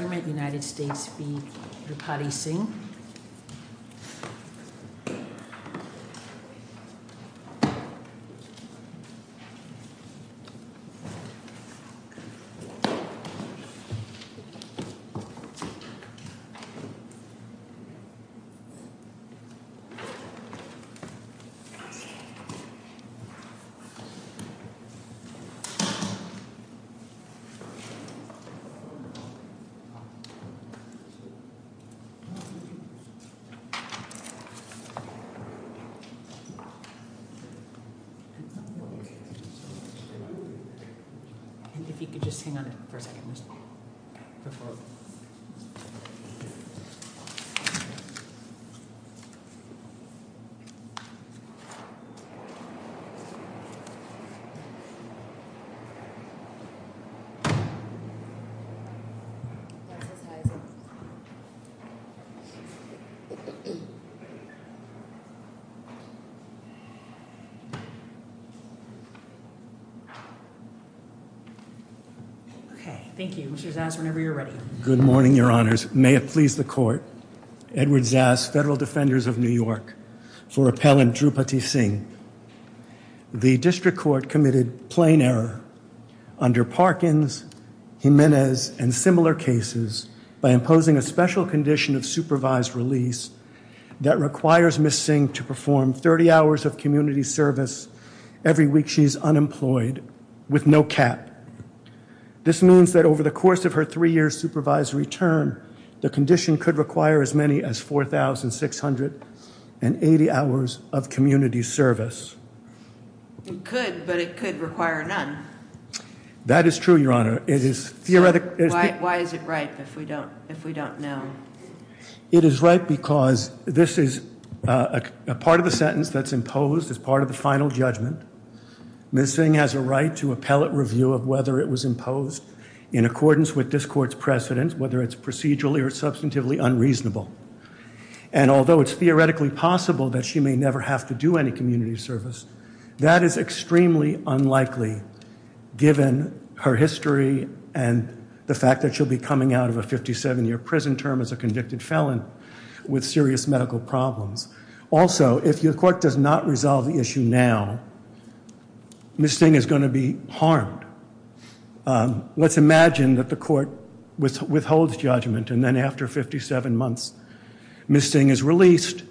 The President-Elect of the United States v. Rampalli Singh And if you could just hang on for a second, Mr. President. Okay, thank you. Mr. Zass, whenever you're ready. Good morning, Your Honors. May it please the Court, Edward Zass, Federal Defenders of New York, for Appellant Drupati Singh. The District Court committed plain error under Parkins, Jimenez, and similar cases by imposing a special condition of supervised release that requires Ms. Singh to perform 30 hours of community service every week she's unemployed with no cap. This means that over the course of her three-year supervisory term, the condition could require as many as 4,680 hours of community service. It could, but it could require none. That is true, Your Honor. Why is it right if we don't know? It is right because this is a part of the sentence that's imposed as part of the final judgment. Ms. Singh has a right to appellate review of whether it was imposed in accordance with this Court's precedent, whether it's procedurally or substantively unreasonable. And although it's theoretically possible that she may never have to do any community service, that is extremely unlikely given her history and the fact that she'll be coming out of a 57-year prison term as a convicted felon with serious medical problems. Also, if the Court does not resolve the issue now, Ms. Singh is going to be harmed. Let's imagine that the Court withholds judgment and then after 57 months, Ms. Singh is released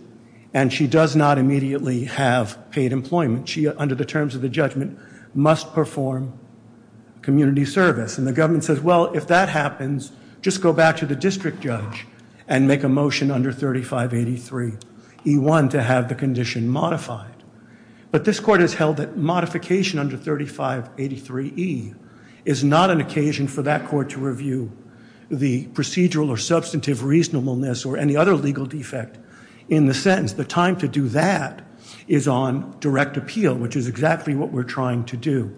and she does not immediately have paid employment. She, under the terms of the judgment, must perform community service. And the government says, well, if that happens, just go back to the district judge and make a motion under 3583E1 to have the condition modified. But this Court has held that modification under 3583E is not an occasion for that Court to review the procedural or substantive reasonableness or any other legal defect in the sentence. The time to do that is on direct appeal, which is exactly what we're trying to do.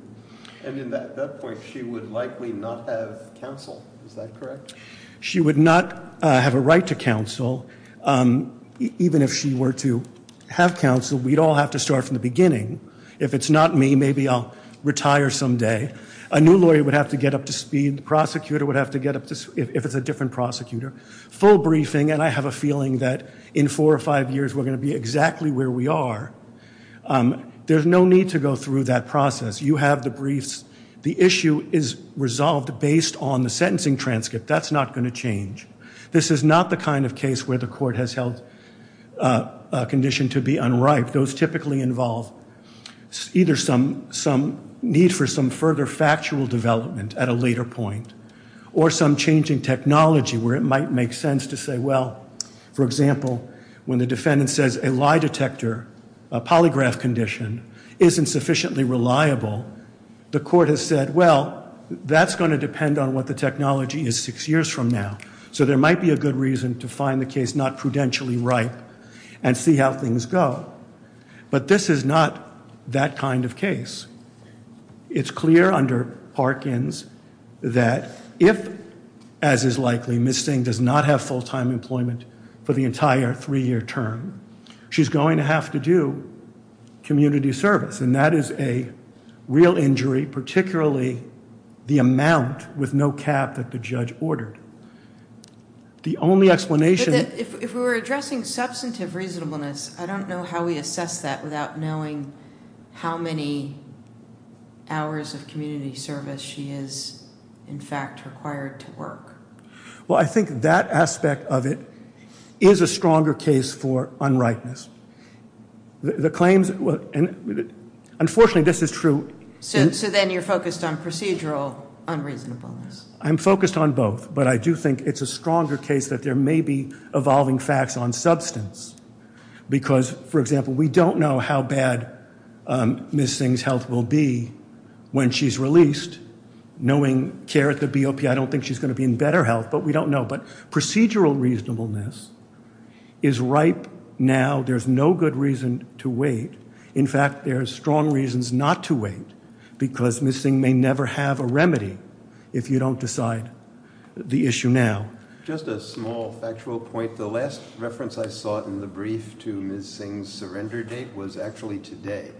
And at that point, she would likely not have counsel. Is that correct? She would not have a right to counsel. Even if she were to have counsel, we'd all have to start from the beginning. If it's not me, maybe I'll retire someday. A new lawyer would have to get up to speed. The prosecutor would have to get up to speed if it's a different prosecutor. Full briefing, and I have a feeling that in four or five years, we're going to be exactly where we are. There's no need to go through that process. You have the briefs. The issue is resolved based on the sentencing transcript. That's not going to change. This is not the kind of case where the Court has held a condition to be unripe. Those typically involve either some need for some further factual development at a later point or some changing technology where it might make sense to say, well, for example, when the defendant says a lie detector, a polygraph condition, isn't sufficiently reliable, the Court has said, well, that's going to depend on what the technology is six years from now. So there might be a good reason to find the case not prudentially ripe and see how things go. But this is not that kind of case. It's clear under Parkins that if, as is likely, Ms. Steng does not have full-time employment for the entire three-year term, she's going to have to do community service, and that is a real injury, particularly the amount with no cap that the judge ordered. The only explanation— If we were addressing substantive reasonableness, I don't know how we assess that without knowing how many hours of community service she is, in fact, required to work. Well, I think that aspect of it is a stronger case for unrightness. The claims—unfortunately, this is true— So then you're focused on procedural unreasonableness. I'm focused on both, but I do think it's a stronger case that there may be evolving facts on substance. Because, for example, we don't know how bad Ms. Steng's health will be when she's released. Knowing care at the BOP, I don't think she's going to be in better health, but we don't know. But procedural reasonableness is ripe now. There's no good reason to wait. In fact, there's strong reasons not to wait, because Ms. Steng may never have a remedy if you don't decide the issue now. Just a small factual point. The last reference I saw in the brief to Ms. Steng's surrender date was actually today.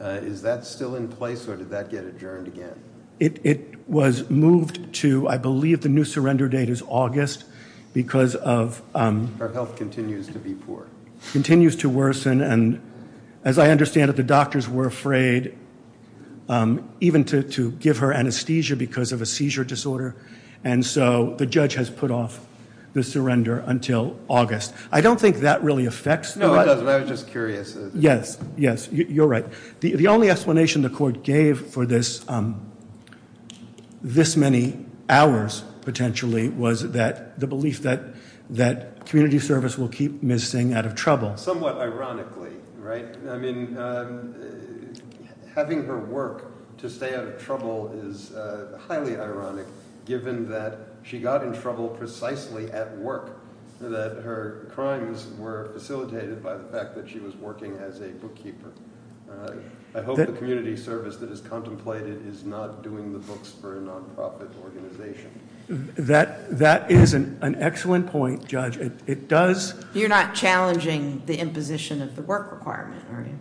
Is that still in place, or did that get adjourned again? It was moved to—I believe the new surrender date is August, because of— Her health continues to be poor. Continues to worsen, and as I understand it, the doctors were afraid even to give her anesthesia because of a seizure disorder. And so the judge has put off the surrender until August. I don't think that really affects— No, it doesn't. I was just curious. Yes, yes, you're right. The only explanation the court gave for this many hours, potentially, was the belief that community service will keep Ms. Steng out of trouble. Somewhat ironically, right? I mean, having her work to stay out of trouble is highly ironic, given that she got in trouble precisely at work, that her crimes were facilitated by the fact that she was working as a bookkeeper. I hope the community service that is contemplated is not doing the books for a nonprofit organization. That is an excellent point, Judge. It does— You're not challenging the imposition of the work requirement, are you?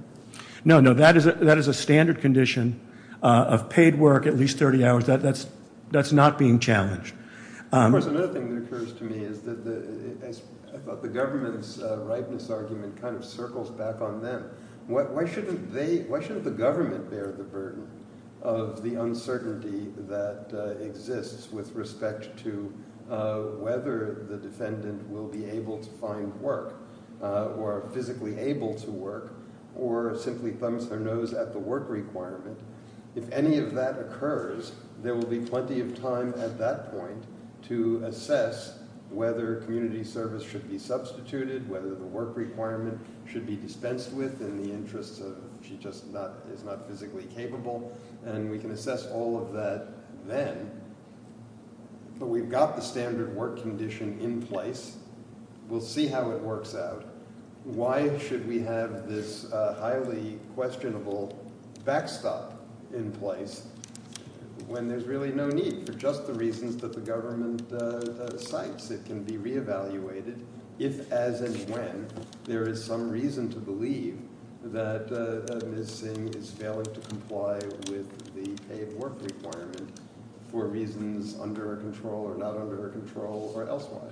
No, no, that is a standard condition of paid work at least 30 hours. That's not being challenged. Of course, another thing that occurs to me is that the government's rightness argument kind of circles back on them. Why shouldn't they—why shouldn't the government bear the burden of the uncertainty that exists with respect to whether the defendant will be able to find work or physically able to work or simply thumbs her nose at the work requirement? If any of that occurs, there will be plenty of time at that point to assess whether community service should be substituted, whether the work requirement should be dispensed with in the interest of she just is not physically capable. And we can assess all of that then. But we've got the standard work condition in place. We'll see how it works out. Why should we have this highly questionable backstop in place when there's really no need for just the reasons that the government cites? It can be re-evaluated if, as, and when there is some reason to believe that Ms. Singh is failing to comply with the paid work requirement for reasons under her control or not under her control or elsewhere.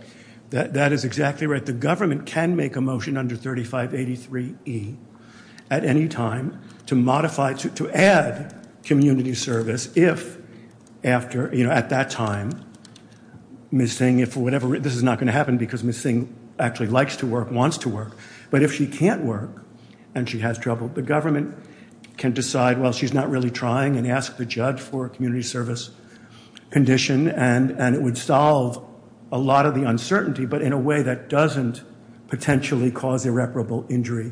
That is exactly right. The government can make a motion under 3583E at any time to modify—to add community service if after—at that time Ms. Singh, if whatever—this is not going to happen because Ms. Singh actually likes to work, wants to work. But if she can't work and she has trouble, the government can decide, well, she's not really trying, and ask the judge for a community service condition and it would solve a lot of the uncertainty, but in a way that doesn't potentially cause irreparable injury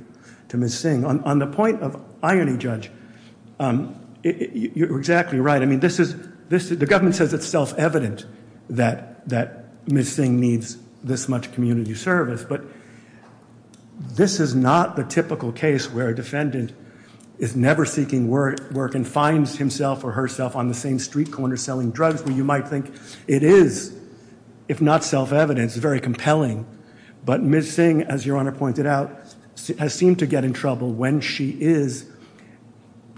to Ms. Singh. On the point of irony, Judge, you're exactly right. I mean, this is—the government says it's self-evident that Ms. Singh needs this much community service, but this is not the typical case where a defendant is never seeking work and finds himself or herself on the same street corner selling drugs, where you might think it is, if not self-evident, it's very compelling. But Ms. Singh, as Your Honor pointed out, has seemed to get in trouble when she is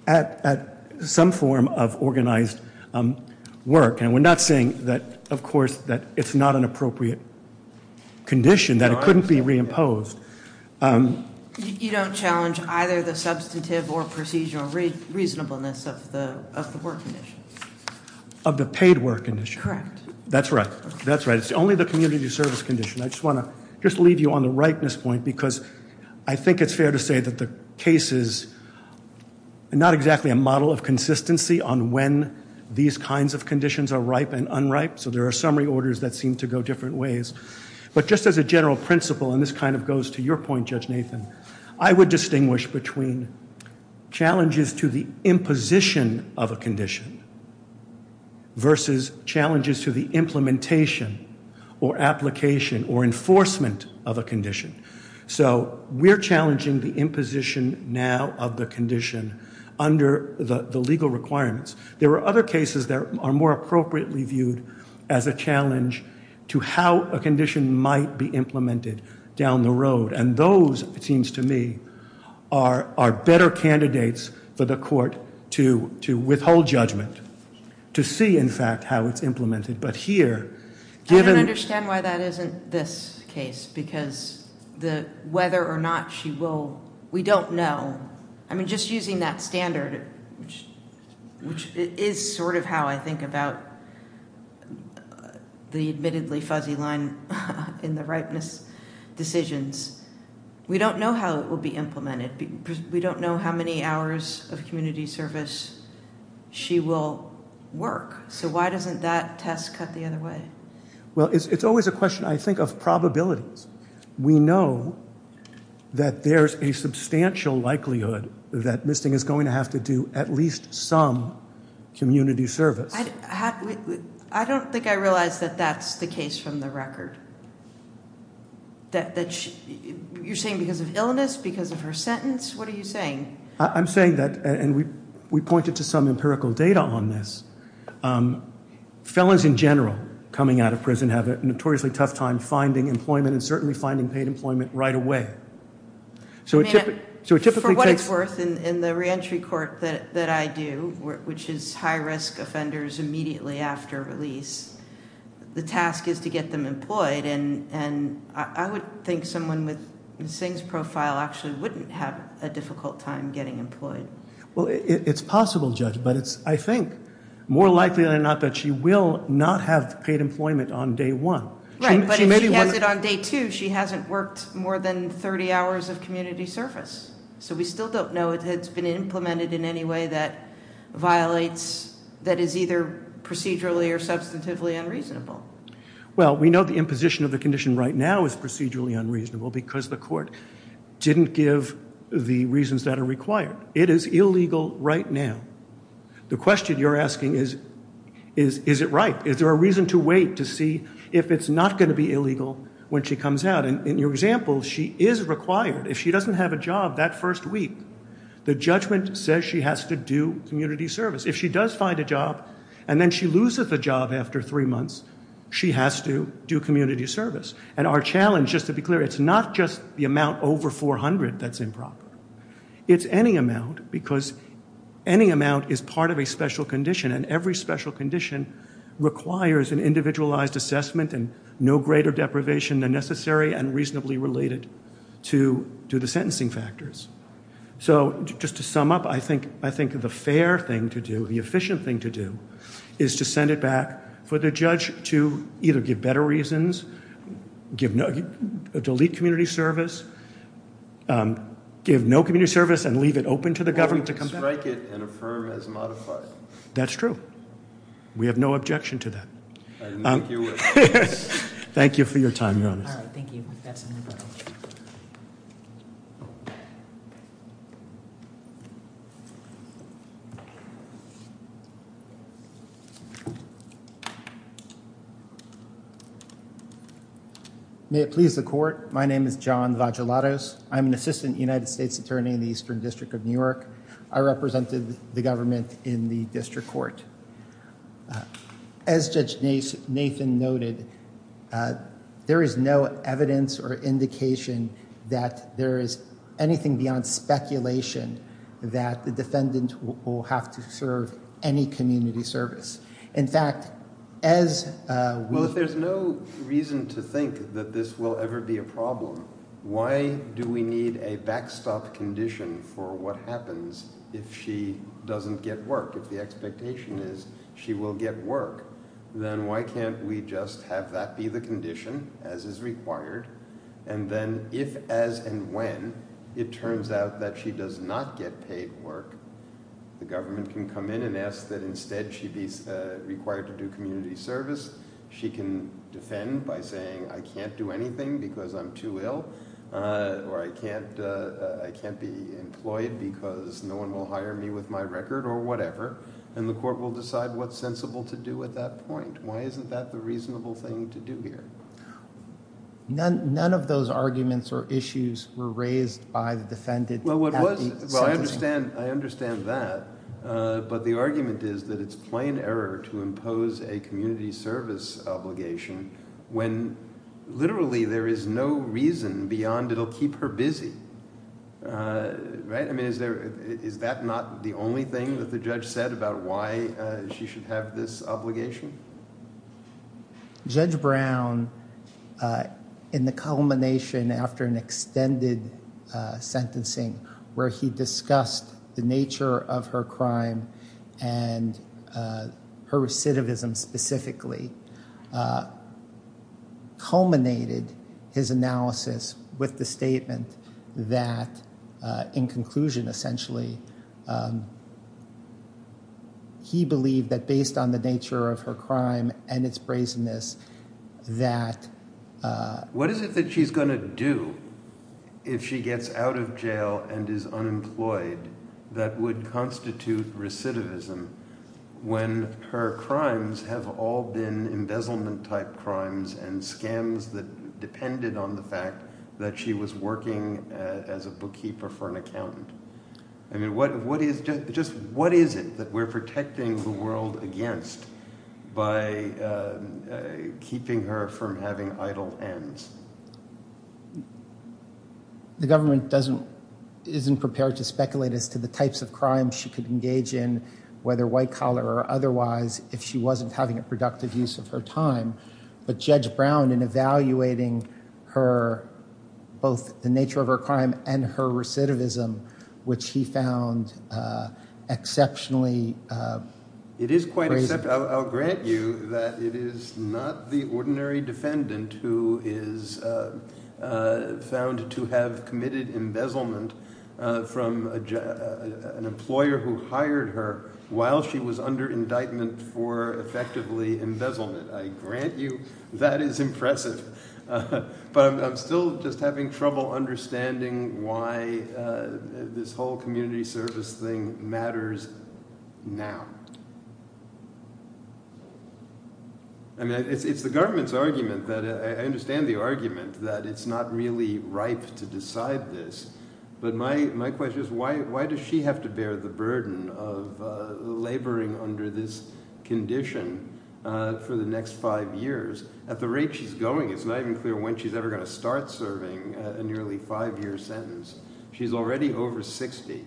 at some form of organized work. And we're not saying that, of course, that it's not an appropriate condition, that it couldn't be reimposed. You don't challenge either the substantive or procedural reasonableness of the work condition? Of the paid work condition? Correct. That's right. That's right. It's only the community service condition. I just want to just leave you on the ripeness point because I think it's fair to say that the case is not exactly a model of consistency on when these kinds of conditions are ripe and unripe, so there are summary orders that seem to go different ways. But just as a general principle, and this kind of goes to your point, Judge Nathan, I would distinguish between challenges to the imposition of a condition versus challenges to the implementation or application or enforcement of a condition. So we're challenging the imposition now of the condition under the legal requirements. There are other cases that are more appropriately viewed as a challenge to how a condition might be implemented down the road. And those, it seems to me, are better candidates for the court to withhold judgment, to see, in fact, how it's implemented. I don't understand why that isn't this case because whether or not she will, we don't know. I mean, just using that standard, which is sort of how I think about the admittedly fuzzy line in the ripeness decisions, we don't know how it will be implemented. We don't know how many hours of community service she will work. So why doesn't that test cut the other way? Well, it's always a question, I think, of probabilities. We know that there's a substantial likelihood that Misting is going to have to do at least some community service. I don't think I realize that that's the case from the record. You're saying because of illness, because of her sentence? What are you saying? I'm saying that, and we pointed to some empirical data on this, felons in general coming out of prison have a notoriously tough time finding employment and certainly finding paid employment right away. I mean, for what it's worth, in the reentry court that I do, which is high-risk offenders immediately after release, the task is to get them employed, and I would think someone with Misting's profile actually wouldn't have a difficult time getting employed. Well, it's possible, Judge, but it's, I think, more likely than not that she will not have paid employment on day one. Right, but if she has it on day two, she hasn't worked more than 30 hours of community service. So we still don't know if it's been implemented in any way that violates, that is either procedurally or substantively unreasonable. Well, we know the imposition of the condition right now is procedurally unreasonable because the court didn't give the reasons that are required. It is illegal right now. The question you're asking is, is it right? Is there a reason to wait to see if it's not going to be illegal when she comes out? And in your example, she is required, if she doesn't have a job that first week, the judgment says she has to do community service. If she does find a job, and then she loses the job after three months, she has to do community service. And our challenge, just to be clear, it's not just the amount over 400 that's improper. It's any amount because any amount is part of a special condition, and every special condition requires an individualized assessment and no greater deprivation than necessary and reasonably related to the sentencing factors. So just to sum up, I think the fair thing to do, the efficient thing to do, is to send it back for the judge to either give better reasons, delete community service, give no community service and leave it open to the government to come back. Or strike it and affirm as modified. That's true. We have no objection to that. I think you would. Thank you for your time, Your Honor. All right. Thank you. May it please the court. My name is John Vagelatos. I'm an assistant United States attorney in the Eastern District of New York. I represented the government in the district court. As Judge Nathan noted, there is no evidence or indication that there is anything beyond speculation that the defendant will have to serve any community service. In fact, as... Well, if there's no reason to think that this will ever be a problem, why do we need a backstop condition for what happens if she doesn't get work, if the expectation is she will get work, then why can't we just have that be the condition as is required? And then if, as, and when it turns out that she does not get paid work, the government can come in and ask that instead she be required to do community service. She can defend by saying I can't do anything because I'm too ill or I can't be employed because no one will hire me with my record or whatever, and the court will decide what's sensible to do at that point. Why isn't that the reasonable thing to do here? None of those arguments or issues were raised by the defendant. Well, I understand that, but the argument is that it's plain error to impose a community service obligation when literally there is no reason beyond it will keep her busy. Right? I mean, is that not the only thing that the judge said about why she should have this obligation? Judge Brown, in the culmination after an extended sentencing where he discussed the nature of her crime and her recidivism specifically, culminated his analysis with the statement that, in conclusion essentially, he believed that based on the nature of her crime and its brazenness that What is it that she's going to do if she gets out of jail and is unemployed that would constitute recidivism when her crimes have all been embezzlement-type crimes and scams that depended on the fact that she was working as a bookkeeper for an accountant? I mean, what is it that we're protecting the world against by keeping her from having idle hands? The government isn't prepared to speculate as to the types of crimes she could engage in whether white-collar or otherwise if she wasn't having a productive use of her time. But Judge Brown, in evaluating both the nature of her crime and her recidivism, which he found exceptionally brazen I'll grant you that it is not the ordinary defendant who is found to have committed embezzlement from an employer who hired her while she was under indictment for effectively embezzlement. I grant you that is impressive. But I'm still just having trouble understanding why this whole community service thing matters now. I mean, it's the government's argument. I understand the argument that it's not really ripe to decide this. But my question is, why does she have to bear the burden of laboring under this condition for the next five years? At the rate she's going, it's not even clear when she's ever going to start serving a nearly five-year sentence. She's already over 60.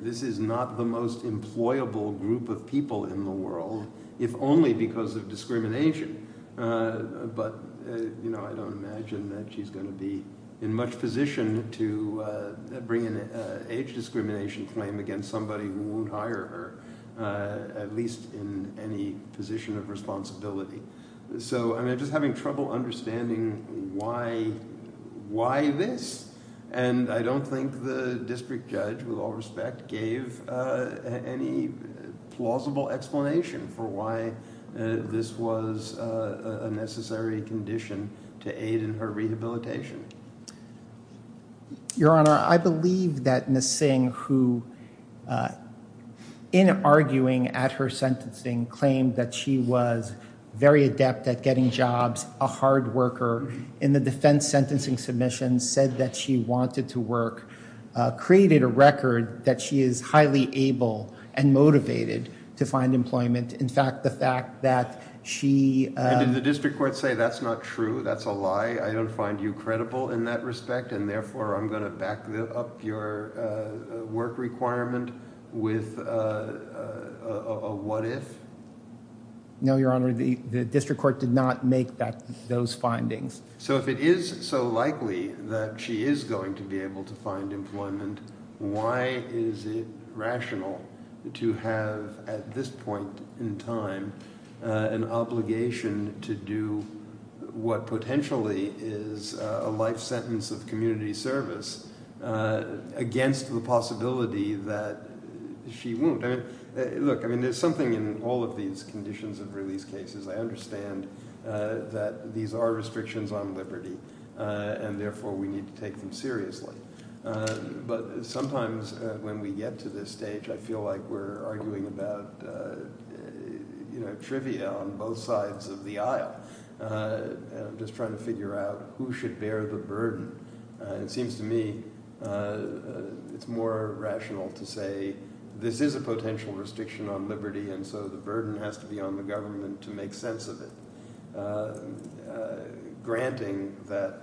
This is not the most employable group of people in the world, if only because of discrimination. But I don't imagine that she's going to be in much position to bring an age discrimination claim against somebody who won't hire her, at least in any position of responsibility. So I'm just having trouble understanding why this. And I don't think the district judge, with all respect, gave any plausible explanation for why this was a necessary condition to aid in her rehabilitation. Your Honor, I believe that Ms. Singh, who, in arguing at her sentencing, claimed that she was very adept at getting jobs, a hard worker, in the defense sentencing submission said that she wanted to work, created a record that she is highly able and motivated to find employment. In fact, the fact that she... Did the district court say that's not true, that's a lie? I don't find you credible in that respect, and therefore I'm going to back up your work requirement with a what if? No, Your Honor, the district court did not make those findings. So if it is so likely that she is going to be able to find employment, why is it rational to have at this point in time an obligation to do what potentially is a life sentence of community service against the possibility that she won't? Look, there's something in all of these conditions of release cases. I understand that these are restrictions on liberty, and therefore we need to take them seriously. But sometimes when we get to this stage, I feel like we're arguing about trivia on both sides of the aisle, just trying to figure out who should bear the burden. It seems to me it's more rational to say this is a potential restriction on liberty, and so the burden has to be on the government to make sense of it, granting that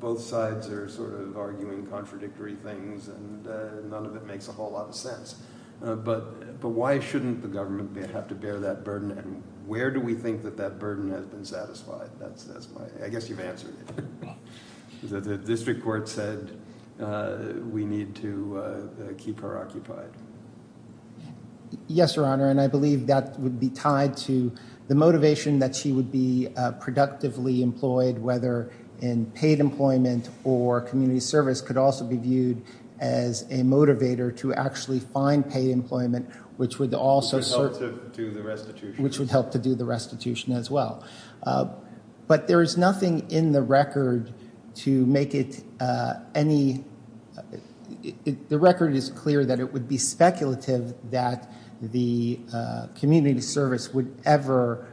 both sides are sort of arguing contradictory things, and none of it makes a whole lot of sense. But why shouldn't the government have to bear that burden, and where do we think that that burden has been satisfied? I guess you've answered it. The district court said we need to keep her occupied. Yes, Your Honor, and I believe that would be tied to the motivation that she would be productively employed, whether in paid employment or community service, could also be viewed as a motivator to actually find paid employment, which would also serve to the restitution, which would help to do the restitution as well. But there is nothing in the record to make it any – the record is clear that it would be speculative that the community service would ever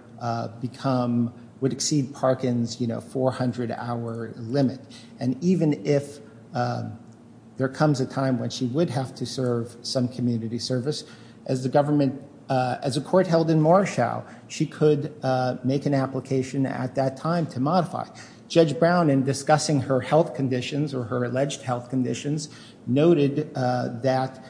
become – would exceed Parkin's 400-hour limit. And even if there comes a time when she would have to serve some community service, as the government – as a court held in Marshall, she could make an application at that time to modify. Judge Brown, in discussing her health conditions or her alleged health conditions, noted that,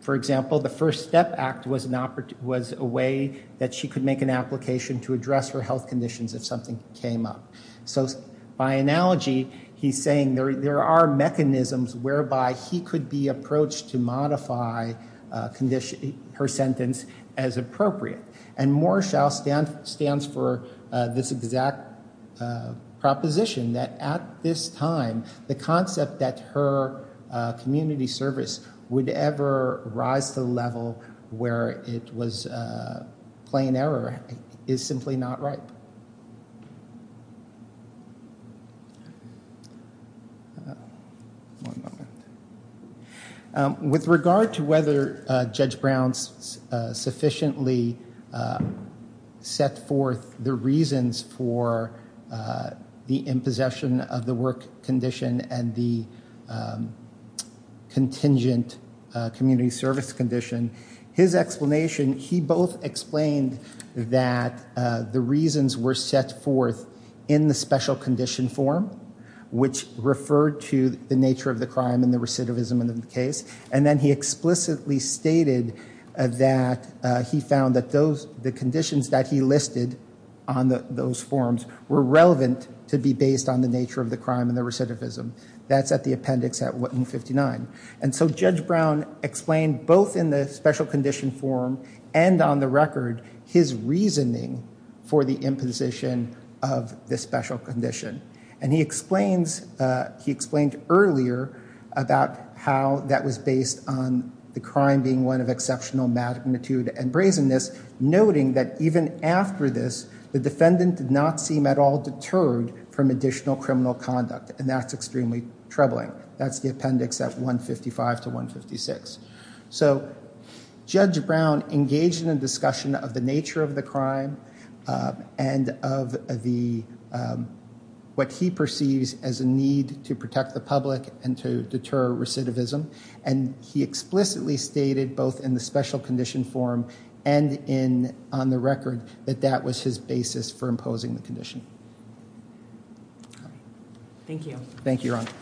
for example, the First Step Act was a way that she could make an application to address her health conditions if something came up. So by analogy, he's saying there are mechanisms whereby he could be approached to modify condition – her sentence as appropriate. And Marshall stands for this exact proposition, that at this time, the concept that her community service would ever rise to the level where it was plain error is simply not right. With regard to whether Judge Brown sufficiently set forth the reasons for the impossession of the work condition and the contingent community service condition, his explanation – he both explained that the reasons were set forth in the special condition form, which referred to the nature of the crime and the recidivism in the case. And then he explicitly stated that he found that those – the conditions that he listed on those forms were relevant to be based on the nature of the crime and the recidivism. That's at the appendix at 159. And so Judge Brown explained both in the special condition form and on the record his reasoning for the imposition of the special condition. And he explains – he explained earlier about how that was based on the crime being one of exceptional magnitude and brazenness, noting that even after this, the defendant did not seem at all deterred from additional criminal conduct. And that's extremely troubling. That's the appendix at 155 to 156. So Judge Brown engaged in a discussion of the nature of the crime and of the – what he perceives as a need to protect the public and to deter recidivism. And he explicitly stated both in the special condition form and in – on the record that that was his basis for imposing the condition. Thank you. Thank you, Your Honor. Thank you.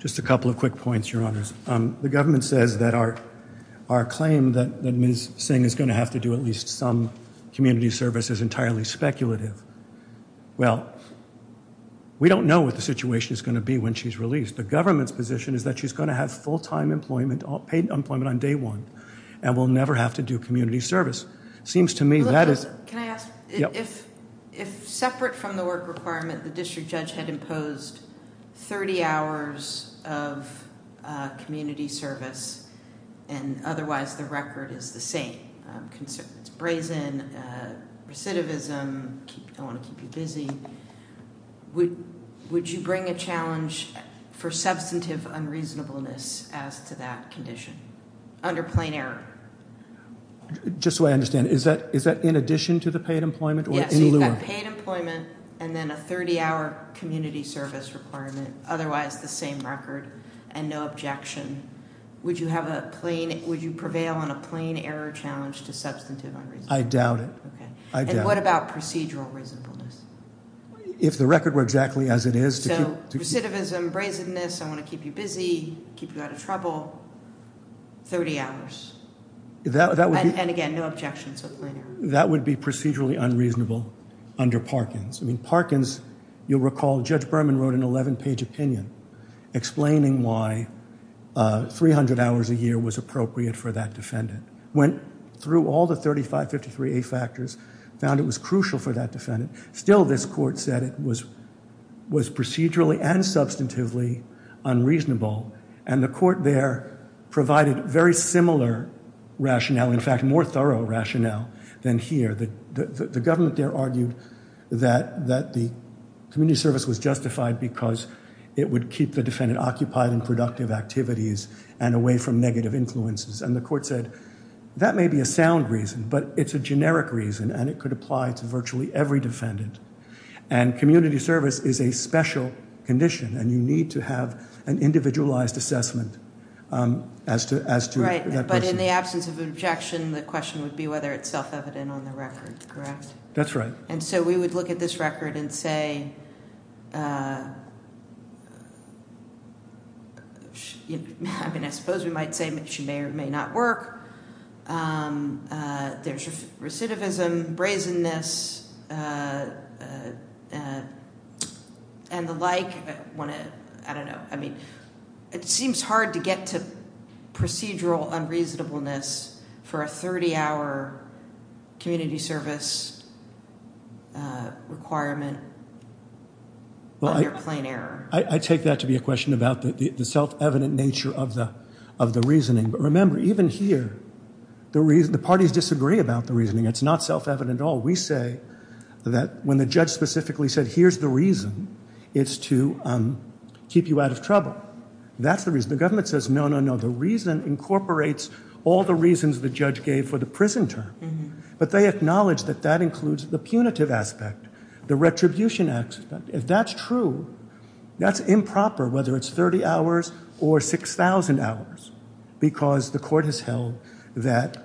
Just a couple of quick points, Your Honors. The government says that our claim that Ms. Singh is going to have to do at least some community service is entirely speculative. Well, we don't know what the situation is going to be when she's released. The government's position is that she's going to have full-time employment – paid employment on day one and will never have to do community service. Seems to me that is – If separate from the work requirement, the district judge had imposed 30 hours of community service and otherwise the record is the same – brazen, recidivism, I want to keep you busy – would you bring a challenge for substantive unreasonableness as to that condition under plain error? Just so I understand, is that in addition to the paid employment or in lieu of – Yes, so you've got paid employment and then a 30-hour community service requirement, otherwise the same record and no objection. Would you have a plain – would you prevail on a plain error challenge to substantive unreasonableness? I doubt it. Okay. I doubt it. And what about procedural reasonableness? If the record were exactly as it is – recidivism, brazenness, I want to keep you busy, keep you out of trouble – 30 hours. That would be – And again, no objections with plain error. That would be procedurally unreasonable under Parkins. I mean, Parkins – you'll recall Judge Berman wrote an 11-page opinion explaining why 300 hours a year was appropriate for that defendant. Went through all the 3553A factors, found it was crucial for that defendant. Still, this court said it was procedurally and substantively unreasonable. And the court there provided very similar rationale, in fact, more thorough rationale than here. The government there argued that the community service was justified because it would keep the defendant occupied in productive activities and away from negative influences. And the court said that may be a sound reason, but it's a generic reason, and it could apply to virtually every defendant. And community service is a special condition, and you need to have an individualized assessment as to that person. Right, but in the absence of objection, the question would be whether it's self-evident on the record, correct? That's right. And so we would look at this record and say – I mean, I suppose we might say she may or may not work. There's recidivism, brazenness and the like. I don't know. I mean, it seems hard to get to procedural unreasonableness for a 30-hour community service requirement under plain error. I take that to be a question about the self-evident nature of the reasoning. But remember, even here, the parties disagree about the reasoning. It's not self-evident at all. We say that when the judge specifically said, here's the reason, it's to keep you out of trouble. That's the reason. The government says, no, no, no, the reason incorporates all the reasons the judge gave for the prison term. But they acknowledge that that includes the punitive aspect, the retribution aspect. If that's true, that's improper, whether it's 30 hours or 6,000 hours, because the court has held that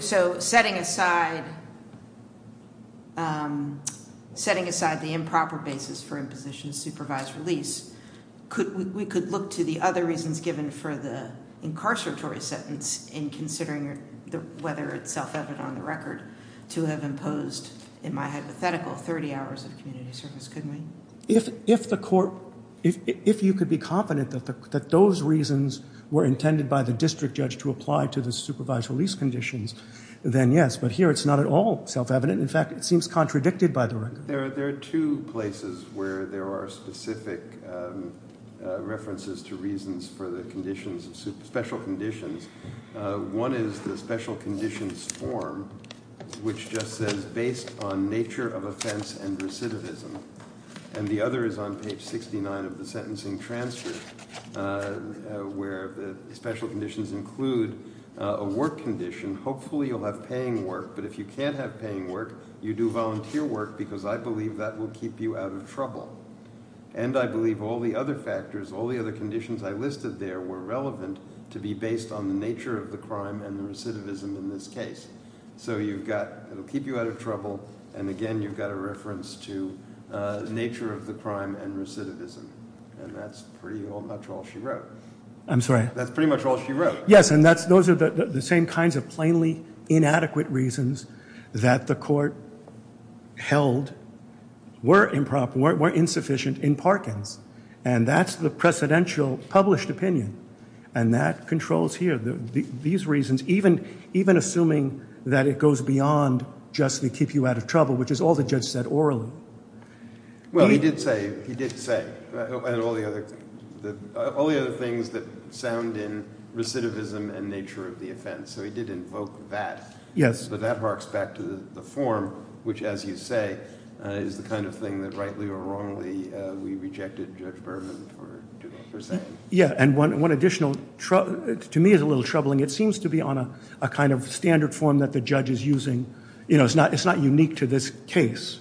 – So setting aside the improper basis for imposition of supervised release, we could look to the other reasons given for the incarceratory sentence in considering whether it's self-evident on the record to have imposed, in my hypothetical, 30 hours of community service, couldn't we? If the court – if you could be confident that those reasons were intended by the district judge to apply to the supervised release conditions, then yes, but here it's not at all self-evident. In fact, it seems contradicted by the record. There are two places where there are specific references to reasons for the conditions, special conditions. One is the special conditions form, which just says based on nature of offense and recidivism. And the other is on page 69 of the sentencing transfer where the special conditions include a work condition. Hopefully, you'll have paying work, but if you can't have paying work, you do volunteer work because I believe that will keep you out of trouble. And I believe all the other factors, all the other conditions I listed there were relevant to be based on the nature of the crime and the recidivism in this case. So you've got – it will keep you out of trouble. And again, you've got a reference to nature of the crime and recidivism. And that's pretty much all she wrote. I'm sorry? That's pretty much all she wrote. Yes, and those are the same kinds of plainly inadequate reasons that the court held were insufficient in Parkins. And that's the precedential published opinion. And that controls here. These reasons, even assuming that it goes beyond just to keep you out of trouble, which is all the judge said orally. Well, he did say all the other things that sound in recidivism and nature of the offense. So he did invoke that. Yes. But that harks back to the form, which, as you say, is the kind of thing that rightly or wrongly we rejected Judge Berman for saying. Yeah, and one additional – to me it's a little troubling. It seems to be on a kind of standard form that the judge is using. It's not unique to this case.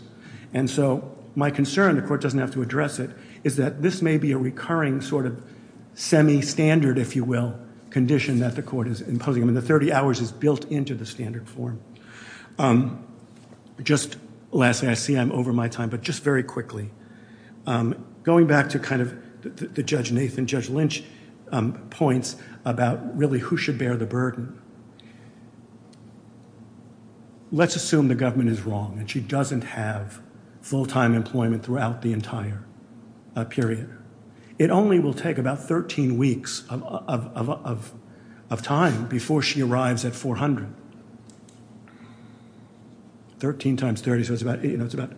And so my concern, the court doesn't have to address it, is that this may be a recurring sort of semi-standard, if you will, condition that the court is imposing. I mean, the 30 hours is built into the standard form. Just lastly, I see I'm over my time, but just very quickly, going back to kind of the Judge Nathan, Judge Lynch points about really who should bear the burden. Let's assume the government is wrong and she doesn't have full-time employment throughout the entire period. It only will take about 13 weeks of time before she arrives at 400. Thirteen times 30, so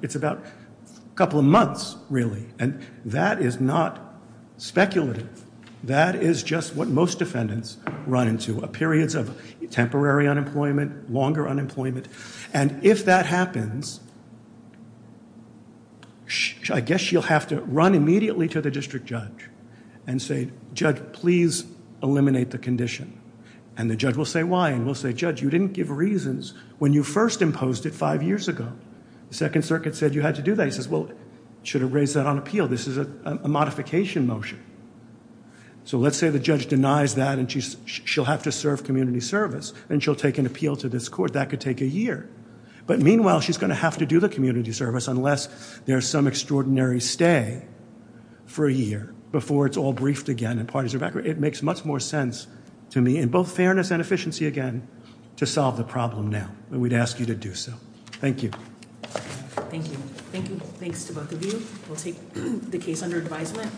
it's about a couple of months, really. And that is not speculative. That is just what most defendants run into, periods of temporary unemployment, longer unemployment. And if that happens, I guess she'll have to run immediately to the district judge and say, Judge, please eliminate the condition. And the judge will say why, and will say, Judge, you didn't give reasons when you first imposed it five years ago. The Second Circuit said you had to do that. He says, well, should have raised that on appeal. This is a modification motion. So let's say the judge denies that and she'll have to serve community service and she'll take an appeal to this court. That could take a year. But meanwhile, she's going to have to do the community service unless there's some extraordinary stay for a year before it's all briefed again and parties are back. It makes much more sense to me, in both fairness and efficiency, again, to solve the problem now. And we'd ask you to do so. Thank you. Thank you. Thanks to both of you. We'll take the case under advisement.